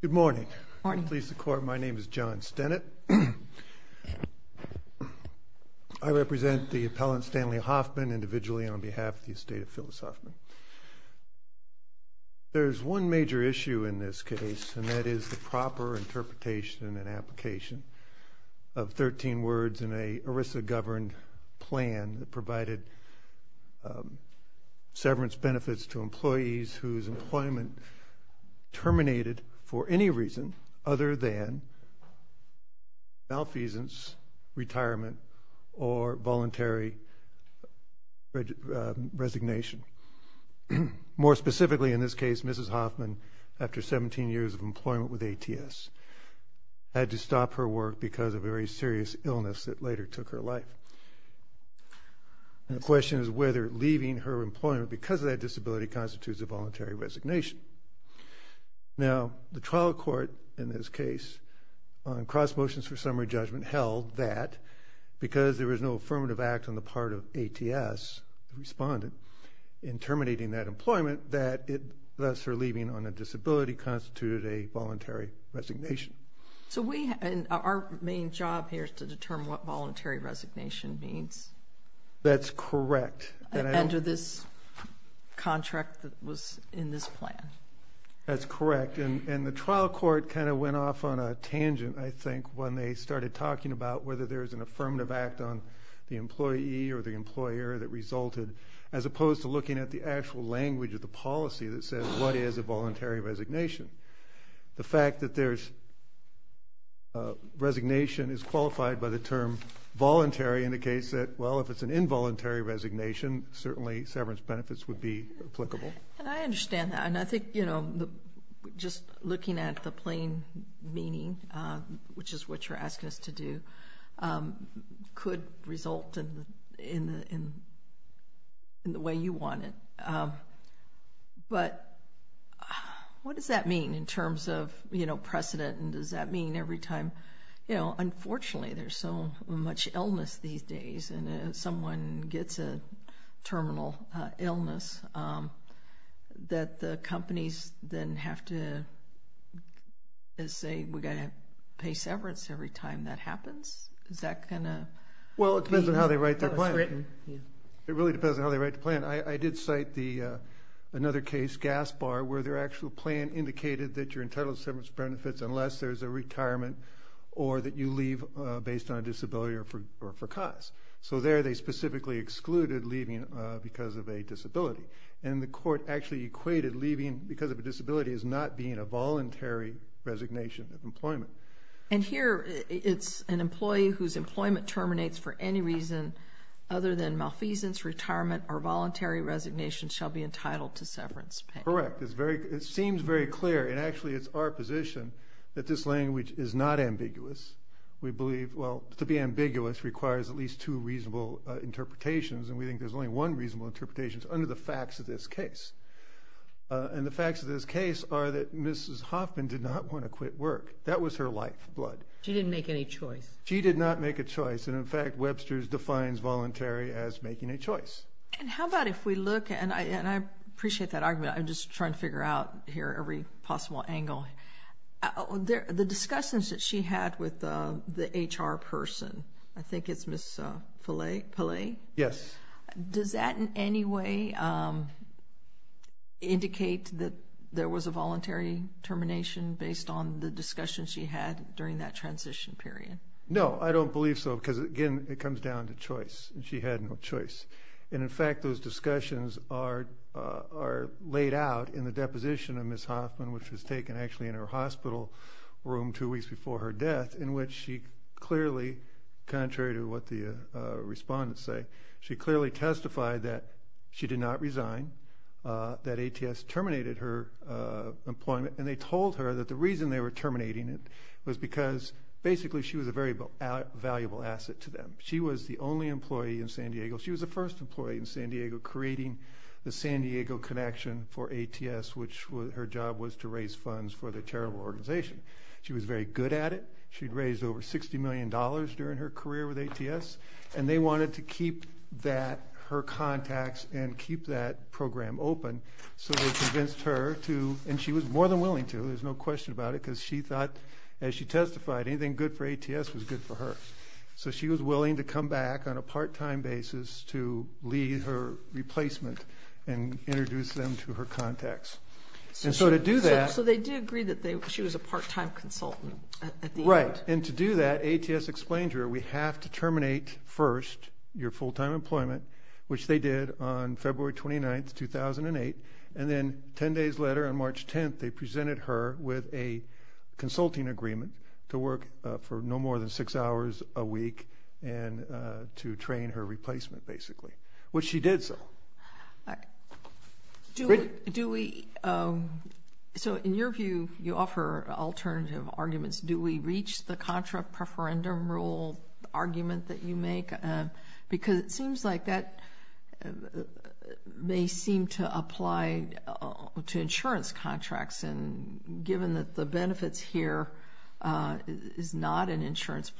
Good morning. Please support my name is John Stennett. I represent the appellant Stanley Hoffman individually on behalf of the estate of Phyllis Hoffman. There is one major issue in this case and that is the proper interpretation and application of 13 words in a ERISA governed plan that provided severance benefits to employees whose employment terminated for any reason other than malfeasance, retirement, or voluntary resignation. More specifically in this case Mrs. Hoffman, after 17 years of employment with ATS, had to stop her work because of a very serious illness that later took her life. The question is whether leaving her employment because of that disability constitutes a voluntary resignation. Now the trial court in this case on cross motions for summary judgment held that because there was no affirmative act on the part of ATS, the respondent, in terminating that employment that thus her main job here is to determine what voluntary resignation means. That's correct. Enter this contract that was in this plan. That's correct and the trial court kind of went off on a tangent I think when they started talking about whether there is an affirmative act on the employee or the employer that resulted as opposed to looking at the actual language of the policy that says what is a voluntary resignation. The fact that there's a resignation is qualified by the term voluntary in the case that well if it's an involuntary resignation certainly severance benefits would be applicable. And I understand that and I think just looking at the plain meaning, which is what you're asking us to do, could result in the way you want it. But what does that mean in terms of precedent and does that mean every time you know, unfortunately there's so much illness these days and if someone gets a terminal illness that the companies then have to say we've got to pay severance every time that happens? Is that going to be written? Well it depends on how they write their plan. It really depends on how they write the plan. I did cite another case, Gas Bar, where their actual plan indicated that you're entitled to severance benefits unless there's a retirement or that you leave based on disability or for cause. So there they specifically excluded leaving because of a disability. And the court actually equated leaving because of a disability as not being a voluntary resignation of employment. And here it's an employee whose employment terminates for any reason other than malfeasance, retirement, or voluntary resignation shall be entitled to severance pay. Correct. It seems very clear and actually it's our position that this language is not ambiguous. We believe, well, to be ambiguous requires at least two reasonable interpretations and we think there's only one reasonable interpretation under the facts of this case. And the facts of this case are that Mrs. Hoffman did not want to defines voluntary as making a choice. And how about if we look, and I appreciate that argument, I'm just trying to figure out here every possible angle. The discussions that she had with the HR person, I think it's Ms. Pillay? Yes. Does that in any way indicate that there was a voluntary termination based on the discussion she had during that transition period? No, I don't believe so because again it comes down to choice. She had no choice. And in fact those discussions are laid out in the deposition of Ms. Hoffman which was taken actually in her hospital room two weeks before her death in which she clearly, contrary to what the respondents say, she clearly testified that she did not resign, that ATS terminated her employment and they told her that the reason they were terminating it was because basically she was a very valuable asset to them. She was the only employee in San Diego, she was the first employee in San Diego creating the San Diego connection for ATS which her job was to raise funds for the charitable organization. She was very good at it. She raised over $60 million during her career with ATS and they wanted to keep that, her to, and she was more than willing to, there's no question about it, because she thought as she testified anything good for ATS was good for her. So she was willing to come back on a part-time basis to lead her replacement and introduce them to her contacts. And so to do that... So they did agree that she was a part-time consultant at the end? Right, and to do that ATS explained to her we have to terminate first your full-time employment which they did on February 29th, 2008 and then 10 days later on March 10th they presented her with a consulting agreement to work for no more than 6 hours a week and to train her replacement basically, which she did so. Do we, so in your view you offer alternative arguments, do we reach the contra preferendum rule argument that you make? Because it seems like that may seem to apply to insurance contracts and given that the benefits here is not an insurance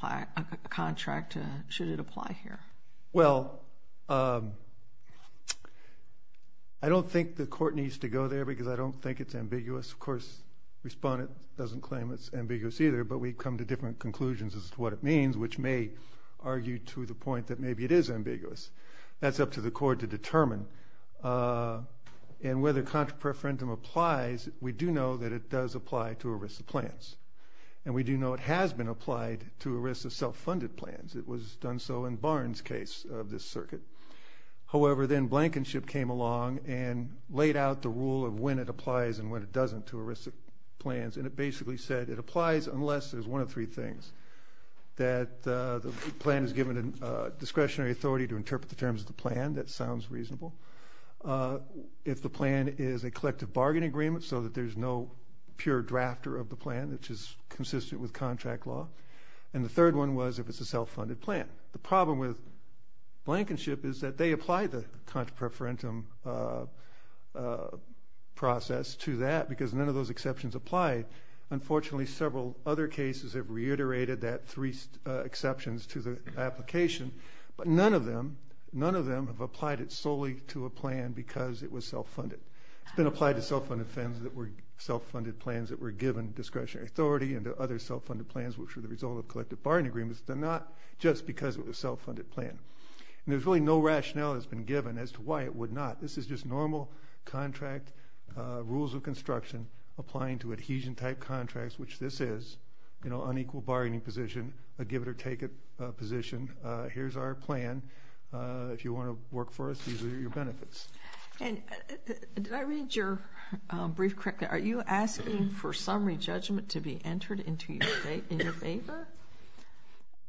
contract, should it apply here? Well, I don't think the court needs to go there because I don't think it's ambiguous. Of course, the respondent doesn't claim it's ambiguous either, but we've come to different conclusions as to what it means, which may argue to the point that maybe it is ambiguous. That's up to the court to determine. And whether contra preferendum applies, we do know that it does apply to ERISA plans. And we do know it has been applied to ERISA self-funded plans. It was done so in Barnes' case of this circuit. However, then Blankenship came along and laid out the rule of when it applies and when it doesn't to ERISA plans and it basically said it applies unless there's one of three things. That the plan is given a discretionary authority to interpret the terms of the plan. That sounds reasonable. If the plan is a collective bargaining agreement so that there's no pure drafter of the plan, which is consistent with contract law. And the third one was if it's a self-funded plan. The problem with Blankenship is that they apply the contra preferendum process to that because none of those exceptions apply. Unfortunately, several other cases have reiterated that three exceptions to the application, but none of them have applied it solely to a plan because it was self-funded. It's been applied to self-funded plans that were given discretionary authority and to other self-funded plans which were the result of collective bargaining agreements, but not just because it was a self-funded plan. And there's really no rationale that's been given as to why it would not. This is just normal contract rules of construction applying to adhesion type contracts, which this is, you know, unequal bargaining position, a give it or take it position. Here's our plan. If you want to work for us, these are your benefits. And did I read your brief correctly? Are you asking for summary judgment to be entered into your favor?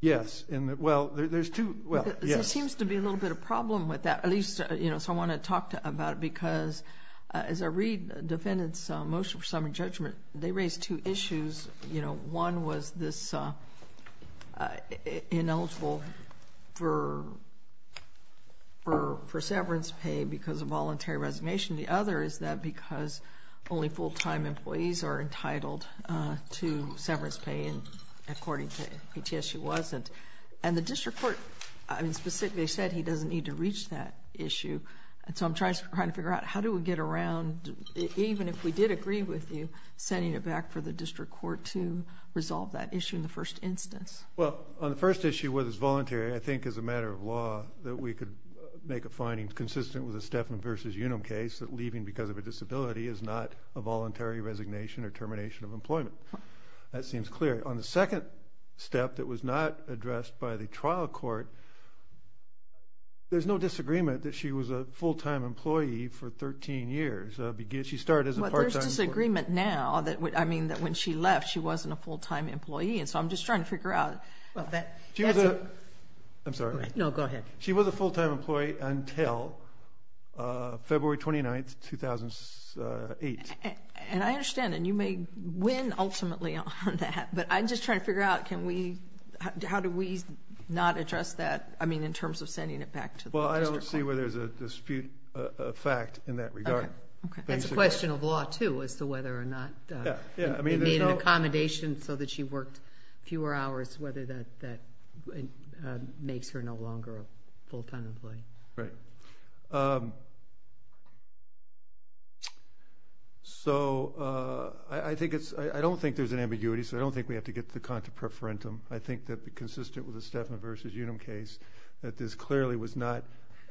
Yes. Well, there's two, well, yes. There seems to be a little bit of problem with that, at least, you know, so I want to talk about it because as I read the defendant's motion for summary judgment, they raised two issues. You know, one was this ineligible for severance pay because of voluntary resignation. The other is that because only full-time employees are entitled to severance pay, and according to PTSU, wasn't. And the district court, I mean, specifically said he doesn't need to reach that issue, and so I'm trying to figure out how do we get around, even if we did agree with you, sending it back for the district court to resolve that issue in the first instance. Well, on the first issue, whether it's voluntary, I think as a matter of law that we could make a finding consistent with the Steffan v. Unum case that leaving because of a disability is not a voluntary resignation or termination of employment. That seems clear. On the second step, that was not addressed by the trial court, there's no disagreement that she was a full-time employee for 13 years. She started as a part-time employee. Well, there's disagreement now that, I mean, that when she left, she wasn't a full-time employee, and so I'm just trying to figure out. Well, that's a... She was a... I'm sorry. No, go ahead. She was a full-time employee until February 29th, 2008. And I understand, and you may win ultimately on that, but I'm just trying to figure out can we, how do we not address that, I mean, in terms of sending it back to the district court. Well, I don't see where there's a dispute of fact in that regard. Okay. Okay. That's a question of law, too, as to whether or not... Yeah. Yeah, I mean, there's no... They made an accommodation so that she worked fewer hours, whether that makes her no longer a full-time employee. Right. So I think it's... I don't think there's an ambiguity, so I don't think we have to get to the contra preferentum. I think that, consistent with the Stefan versus Unum case, that this clearly was not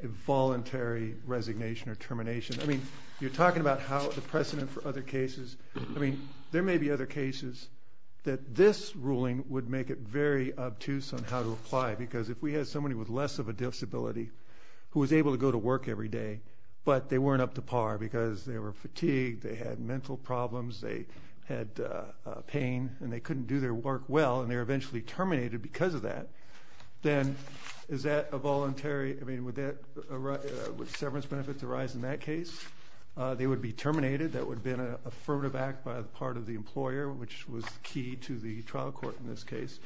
a voluntary resignation or termination. I mean, you're talking about how the precedent for other cases... I mean, there may be other cases that this ruling would make it very obtuse on how to who was able to go to work every day, but they weren't up to par because they were fatigued, they had mental problems, they had pain, and they couldn't do their work well, and they were eventually terminated because of that. Then is that a voluntary... I mean, would severance benefits arise in that case? They would be terminated. That would have been an affirmative act by the part of the employer, which was key to the trial court in this case,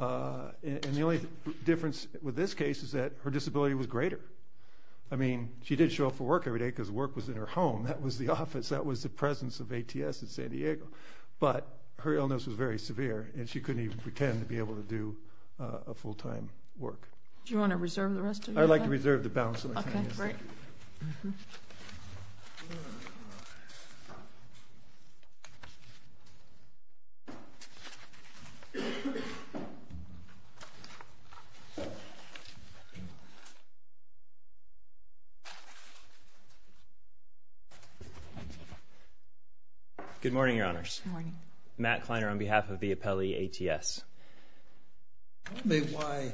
and the only difference with this case is that her disability was greater. I mean, she did show up for work every day because work was in her home. That was the office. That was the presence of ATS in San Diego, but her illness was very severe, and she couldn't even pretend to be able to do a full-time work. Do you want to reserve the rest of your time? I'd like to reserve the balance of my time, yes. Okay, great. Good morning, Your Honors. Matt Kleiner on behalf of the appellee, ATS. Tell me why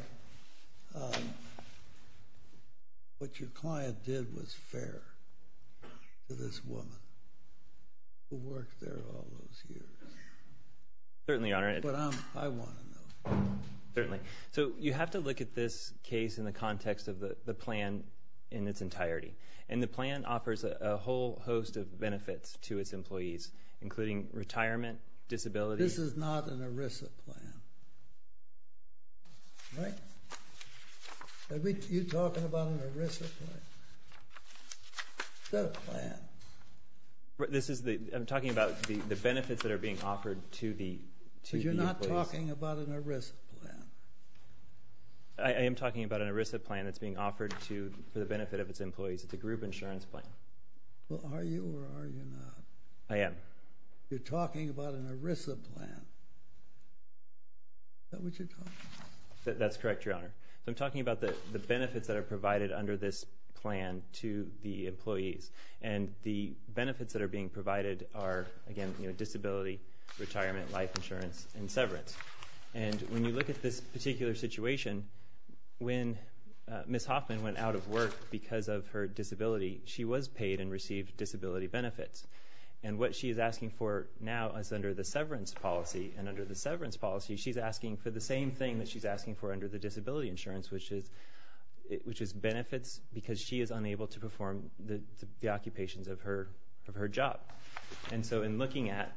what your client did was fair to this woman who worked there all those years. Certainly, Your Honor. But I want to know. Certainly. So you have to look at this case in the context of the plan in its entirety, and the plan offers a whole host of benefits to its employees, including retirement, disability. This is not an ERISA plan, right? You're talking about an ERISA plan, not a plan. This is the – I'm talking about the benefits that are being offered to the employees. You're talking about an ERISA plan. I am talking about an ERISA plan that's being offered to – for the benefit of its employees. It's a group insurance plan. Well, are you or are you not? I am. You're talking about an ERISA plan. Is that what you're talking about? That's correct, Your Honor. I'm talking about the benefits that are provided under this plan to the employees, and the benefits that are being provided are, again, disability, retirement, life insurance, and severance. And when you look at this particular situation, when Ms. Hoffman went out of work because of her disability, she was paid and received disability benefits. And what she is asking for now is under the severance policy, and under the severance policy, she's asking for the same thing that she's asking for under the disability insurance, which is benefits because she is unable to perform the occupations of her job. And so in looking at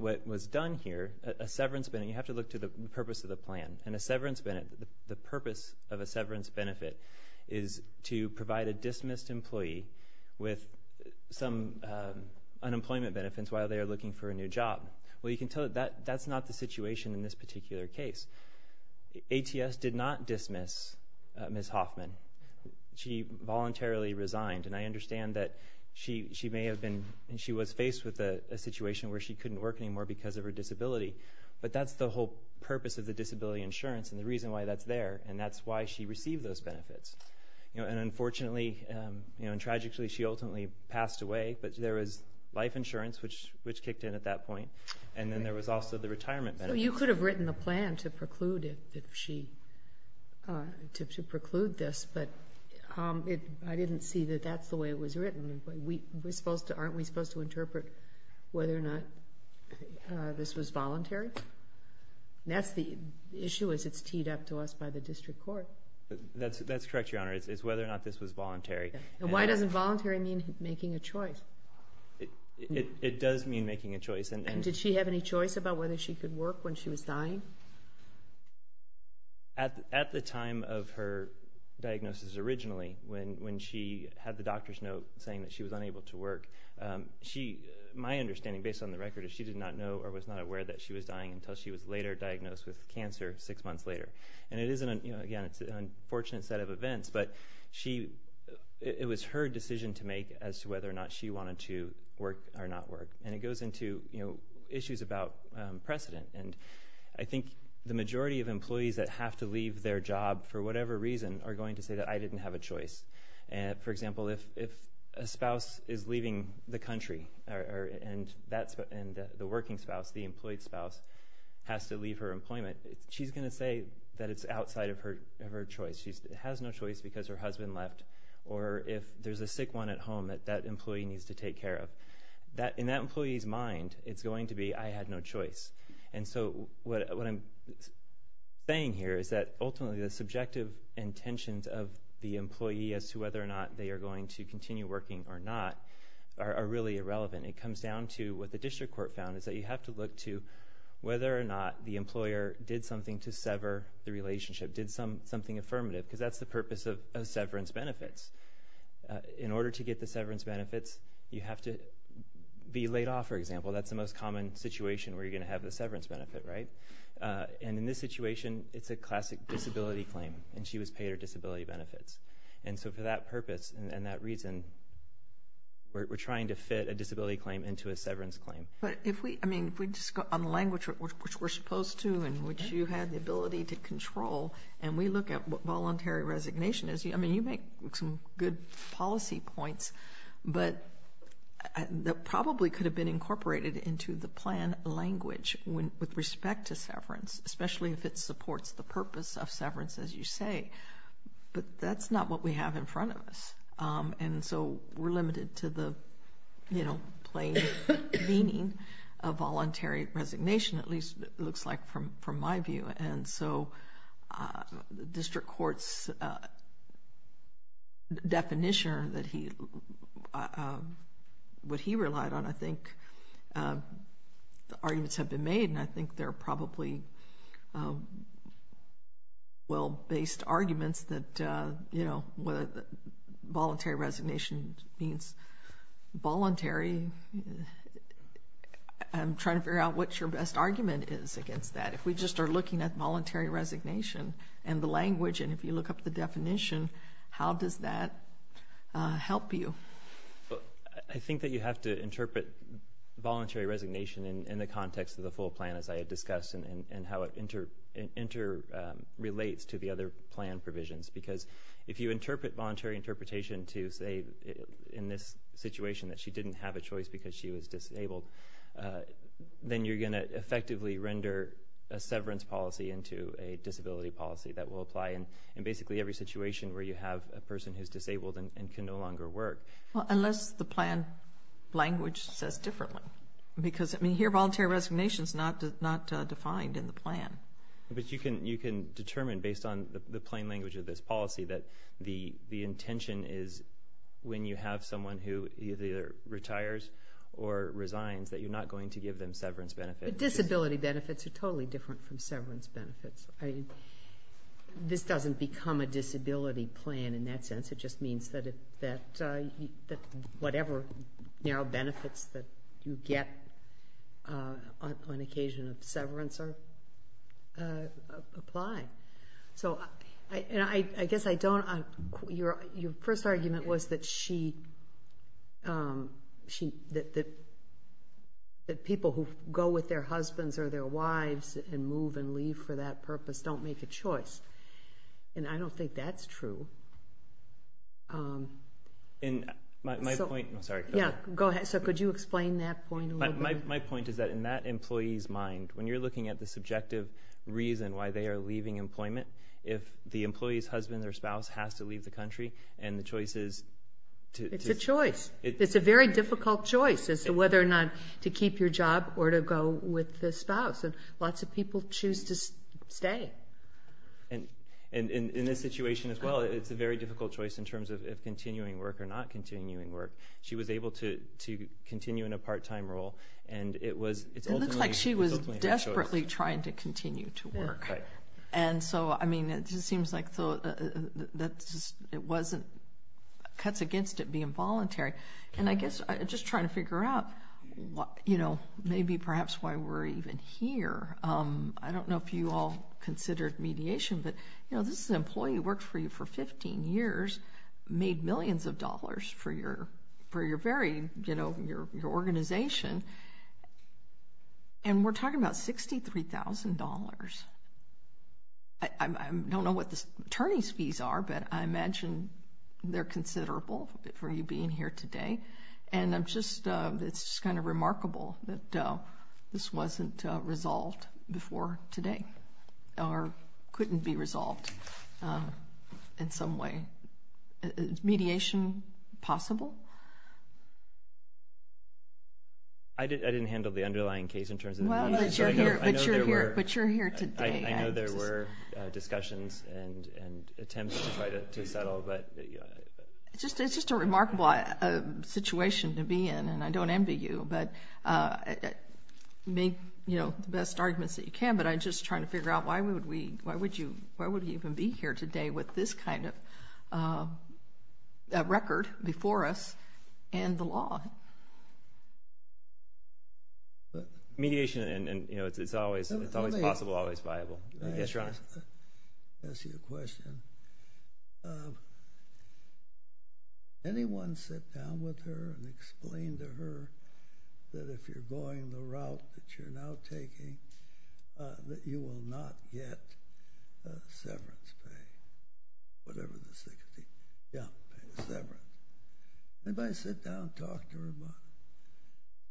what was done here, a severance – you have to look to the purpose of the plan. And a severance – the purpose of a severance benefit is to provide a dismissed employee with some unemployment benefits while they are looking for a new job. Well, you can tell that that's not the situation in this particular case. ATS did not dismiss Ms. Hoffman. She voluntarily resigned, and I understand that she was faced with a situation where she couldn't work anymore because of her disability, but that's the whole purpose of the disability insurance and the reason why that's there, and that's why she received those benefits. And unfortunately and tragically, she ultimately passed away, but there was life insurance, which kicked in at that point, and then there was also the retirement benefit. So you could have written a plan to preclude this, but I didn't see that that's the way it was written. Aren't we supposed to interpret whether or not this was voluntary? That's the issue as it's teed up to us by the district court. That's correct, Your Honor. It's whether or not this was voluntary. And why doesn't voluntary mean making a choice? It does mean making a choice. Did she have any choice about whether she could work when she was dying? At the time of her diagnosis originally, when she had the doctor's note saying that she was unable to work, my understanding, based on the record, is that she did not know or was not aware that she was dying until she was later diagnosed with cancer six months later. And again, it's an unfortunate set of events, but it was her decision to make as to whether or not she wanted to work or not work. And it goes into issues about precedent. And I think the majority of employees that have to leave their job for whatever reason are going to say that I didn't have a choice. For example, if a spouse is leaving the country and the working spouse, the employed spouse, has to leave her employment, she's going to say that it's outside of her choice. She has no choice because her husband left or if there's a sick one at home that that employee needs to take care of. In that employee's mind, it's going to be, I had no choice. And so what I'm saying here is that ultimately the subjective intentions of the employee as to whether or not they are going to continue working or not are really irrelevant. It comes down to what the district court found is that you have to look to whether or not the employer did something to sever the relationship, did something affirmative, because that's the purpose of severance benefits. In order to get the severance benefits, you have to be laid off, for example. That's the most common situation where you're going to have the severance benefit, right? And in this situation, it's a classic disability claim, and she was paid her disability benefits. And so for that purpose and that reason, we're trying to fit a disability claim into a severance claim. But if we, I mean, if we just go on the language which we're supposed to and which you had the ability to control, and we look at what voluntary resignation is, I mean, you make some good policy points, but that probably could have been incorporated into the plan language with respect to severance, especially if it supports the purpose of severance, as you say, but that's not what we have in front of us. And so we're limited to the, you know, plain meaning of voluntary resignation, at least it looks like from my view. And so district court's definition that he, what he relied on, I think the arguments have been made, and I think they're probably well-based arguments that, you know, voluntary resignation means voluntary, I'm trying to figure out what your best argument is against that. But if we just are looking at voluntary resignation and the language, and if you look up the definition, how does that help you? I think that you have to interpret voluntary resignation in the context of the full plan, as I had discussed, and how it interrelates to the other plan provisions. Because if you interpret voluntary interpretation to say in this situation that she didn't have a choice because she was disabled, then you're going to effectively render a severance policy into a disability policy that will apply in basically every situation where you have a person who's disabled and can no longer work. Well, unless the plan language says differently. Because I mean, here voluntary resignation's not defined in the plan. But you can determine based on the plain language of this policy that the intention is when you have someone who either retires or resigns that you're not going to give them severance benefits. But disability benefits are totally different from severance benefits. This doesn't become a disability plan in that sense, it just means that whatever narrow benefits that you get on occasion of severance apply. So, I guess I don't, your first argument was that she, that people who go with their husbands or their wives and move and leave for that purpose don't make a choice. And I don't think that's true. In my point, I'm sorry. Yeah, go ahead. So could you explain that point a little bit? My point is that in that employee's mind, when you're looking at the subjective reason why they are leaving employment, if the employee's husband or spouse has to leave the country and the choice is to... It's a choice. It's a very difficult choice as to whether or not to keep your job or to go with the spouse. And lots of people choose to stay. And in this situation as well, it's a very difficult choice in terms of continuing work or not continuing work. She was able to continue in a part-time role and it was... It looks like she was desperately trying to continue to work. And so, I mean, it just seems like it cuts against it being voluntary. And I guess just trying to figure out maybe perhaps why we're even here, I don't know if you all considered mediation, but this is an employee who worked for you for 15 years, made millions of dollars for your organization. And we're talking about $63,000. I don't know what the attorney's fees are, but I imagine they're considerable for you being here today. And it's just kind of remarkable that this wasn't resolved before today or couldn't be mediation possible. I didn't handle the underlying case in terms of mediation. Well, but you're here. But you're here. But you're here today. I know there were discussions and attempts to try to settle, but... It's just a remarkable situation to be in and I don't envy you, but make the best arguments that you can. But I'm just trying to figure out why would we, why would you even be here today with this kind of record before us and the law? Mediation, you know, it's always possible, always viable. Yes, Your Honor. Let me ask you a question. Anyone sit down with her and explain to her that if you're going the route that you're now taking, that you will not get severance pay, whatever this thing is. Yeah. Severance. Anybody sit down and talk to her about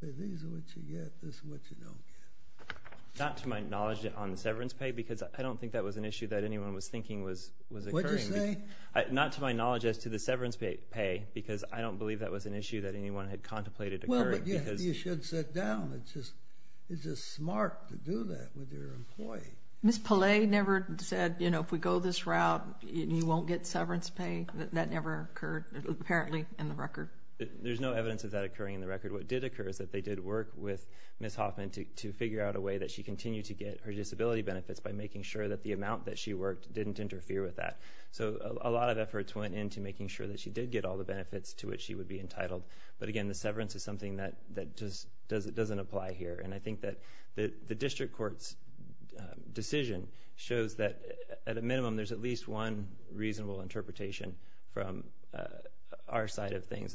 it? Say, these are what you get, this is what you don't get. Not to my knowledge on the severance pay because I don't think that was an issue that anyone was thinking was occurring. What'd you say? Not to my knowledge as to the severance pay because I don't believe that was an issue that anyone had contemplated occurring because... Well, but you should sit down. It's just smart to do that with your employee. Ms. Pillay never said, you know, if we go this route, you won't get severance pay. That never occurred, apparently, in the record. There's no evidence of that occurring in the record. What did occur is that they did work with Ms. Hoffman to figure out a way that she continued to get her disability benefits by making sure that the amount that she worked didn't interfere with that. So a lot of efforts went into making sure that she did get all the benefits to which she would be entitled. But again, the severance is something that just doesn't apply here. And I think that the district court's decision shows that at a minimum, there's at least one reasonable interpretation from our side of things.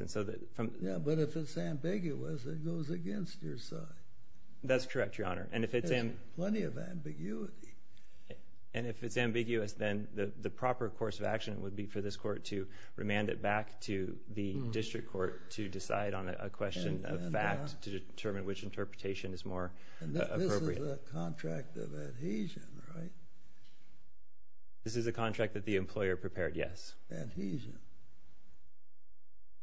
Yeah, but if it's ambiguous, it goes against your side. That's correct, Your Honor. There's plenty of ambiguity. And if it's ambiguous, then the proper course of action would be for this court to remand it back to the district court to decide on a question of fact to determine which interpretation is more appropriate. And this is a contract of adhesion, right? This is a contract that the employer prepared, yes. Adhesion.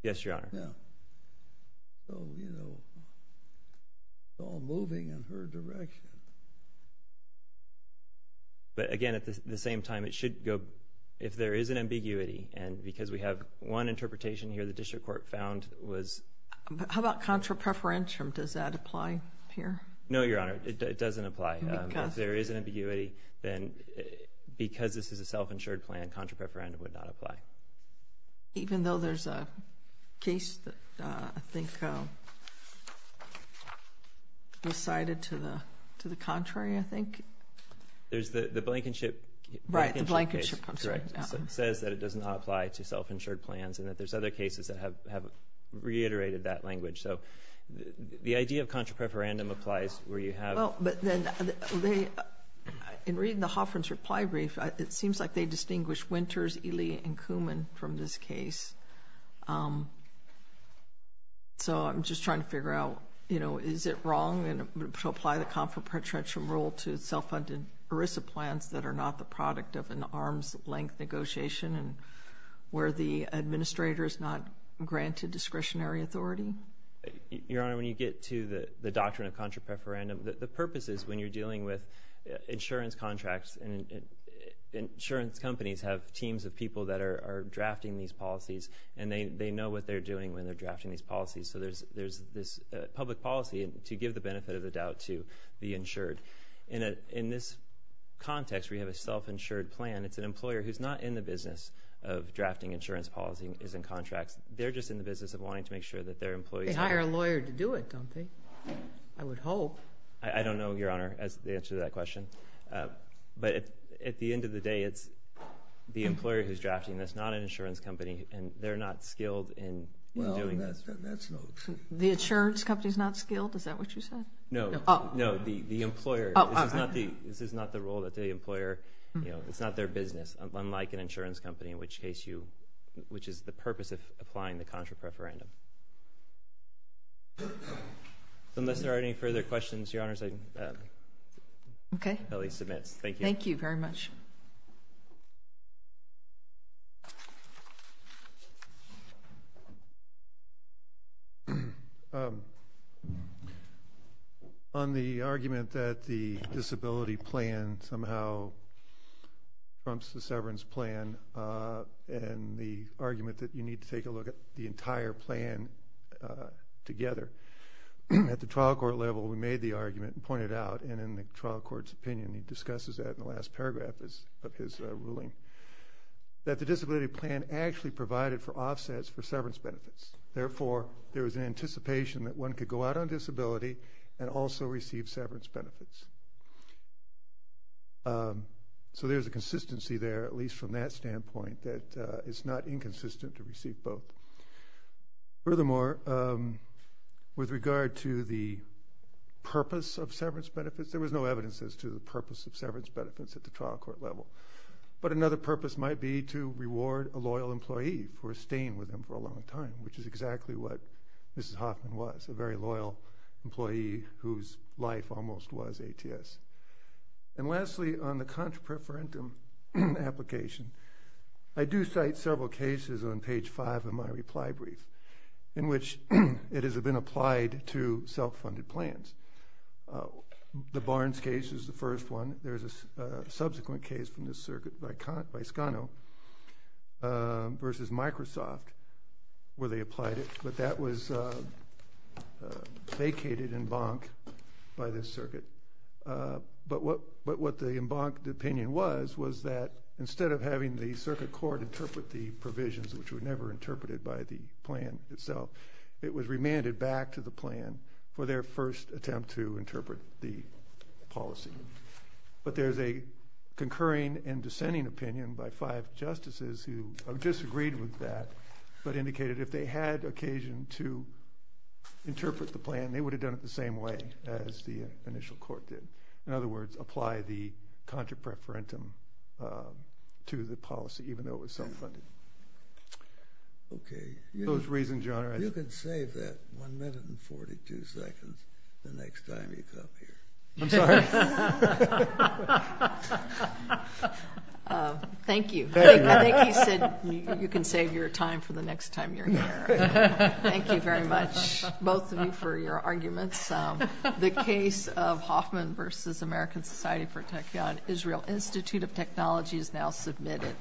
Yes, Your Honor. Yeah. So, you know, it's all moving in her direction. But again, at the same time, it should go, if there is an ambiguity, and because we have one interpretation here the district court found was... But how about contra preferential? Does that apply here? No, Your Honor. It doesn't apply. If there is an ambiguity, then because this is a self-insured plan, contra preferential would not apply. Even though there's a case that I think recited to the contrary, I think? There's the Blankenship case. Right, the Blankenship case. That's right. It says that it does not apply to self-insured plans and that there's other cases that have reiterated that language. So the idea of contra preferential applies where you have... Well, but then in reading the Hoffman's reply brief, it seems like they distinguish Winters, Ely, and Kuman from this case. So I'm just trying to figure out, you know, is it wrong to apply the contra preferential rule to self-funded ERISA plans that are not the product of an arm's length negotiation and where the administrator is not granted discretionary authority? Your Honor, when you get to the doctrine of contra preferential, the purpose is when you're insurance contracts and insurance companies have teams of people that are drafting these policies, and they know what they're doing when they're drafting these policies. So there's this public policy to give the benefit of the doubt to the insured. In this context, we have a self-insured plan. It's an employer who's not in the business of drafting insurance policies and contracts. They're just in the business of wanting to make sure that their employees... They hire a lawyer to do it, don't they? I would hope. I don't know, Your Honor, the answer to that question. But at the end of the day, it's the employer who's drafting this, not an insurance company, and they're not skilled in doing this. Well, that's no... The insurance company is not skilled? Is that what you said? No. No, the employer. This is not the role that the employer... It's not their business, unlike an insurance company, in which case you... which is the purpose of applying the contra preferential. Unless there are any further questions, Your Honors, I will at least admit. Thank you. Thank you very much. On the argument that the disability plan somehow trumps the severance plan, and the argument that you need to take a look at the entire plan together. At the trial court level, we made the argument and pointed it out, and in the trial court's opinion, he discusses that in the last paragraph of his ruling, that the disability plan actually provided for offsets for severance benefits. Therefore, there was an anticipation that one could go out on disability and also receive severance benefits. So there's a consistency there, at least from that standpoint, that it's not inconsistent to receive both. Furthermore, with regard to the purpose of severance benefits, there was no evidence as to the purpose of severance benefits at the trial court level. But another purpose might be to reward a loyal employee for staying with him for a long time, which is exactly what Mrs. Hoffman was, a very loyal employee whose life almost was ATS. And lastly, on the contra preferentum application, I do cite several cases on page 5 of my reply brief in which it has been applied to self-funded plans. The Barnes case is the first one. There's a subsequent case from the circuit by Scano versus Microsoft where they applied it. But that was vacated en banc by this circuit. But what the en banc opinion was was that instead of having the circuit court interpret the provisions, which were never interpreted by the plan itself, it was remanded back to the plan for their first attempt to interpret the policy. But there's a concurring and dissenting opinion by five justices who disagreed with that but indicated if they had occasion to interpret the plan, they would have done it the same way as the initial court did. In other words, apply the contra preferentum to the policy, even though it was self-funded. Okay. You can save that one minute and 42 seconds the next time you come here. I'm sorry. Thank you. I think he said you can save your time for the next time you're here. Thank you very much, both of you, for your arguments. The case of Hoffman versus American Society for Tech Yon Israel Institute of Technology is now submitted.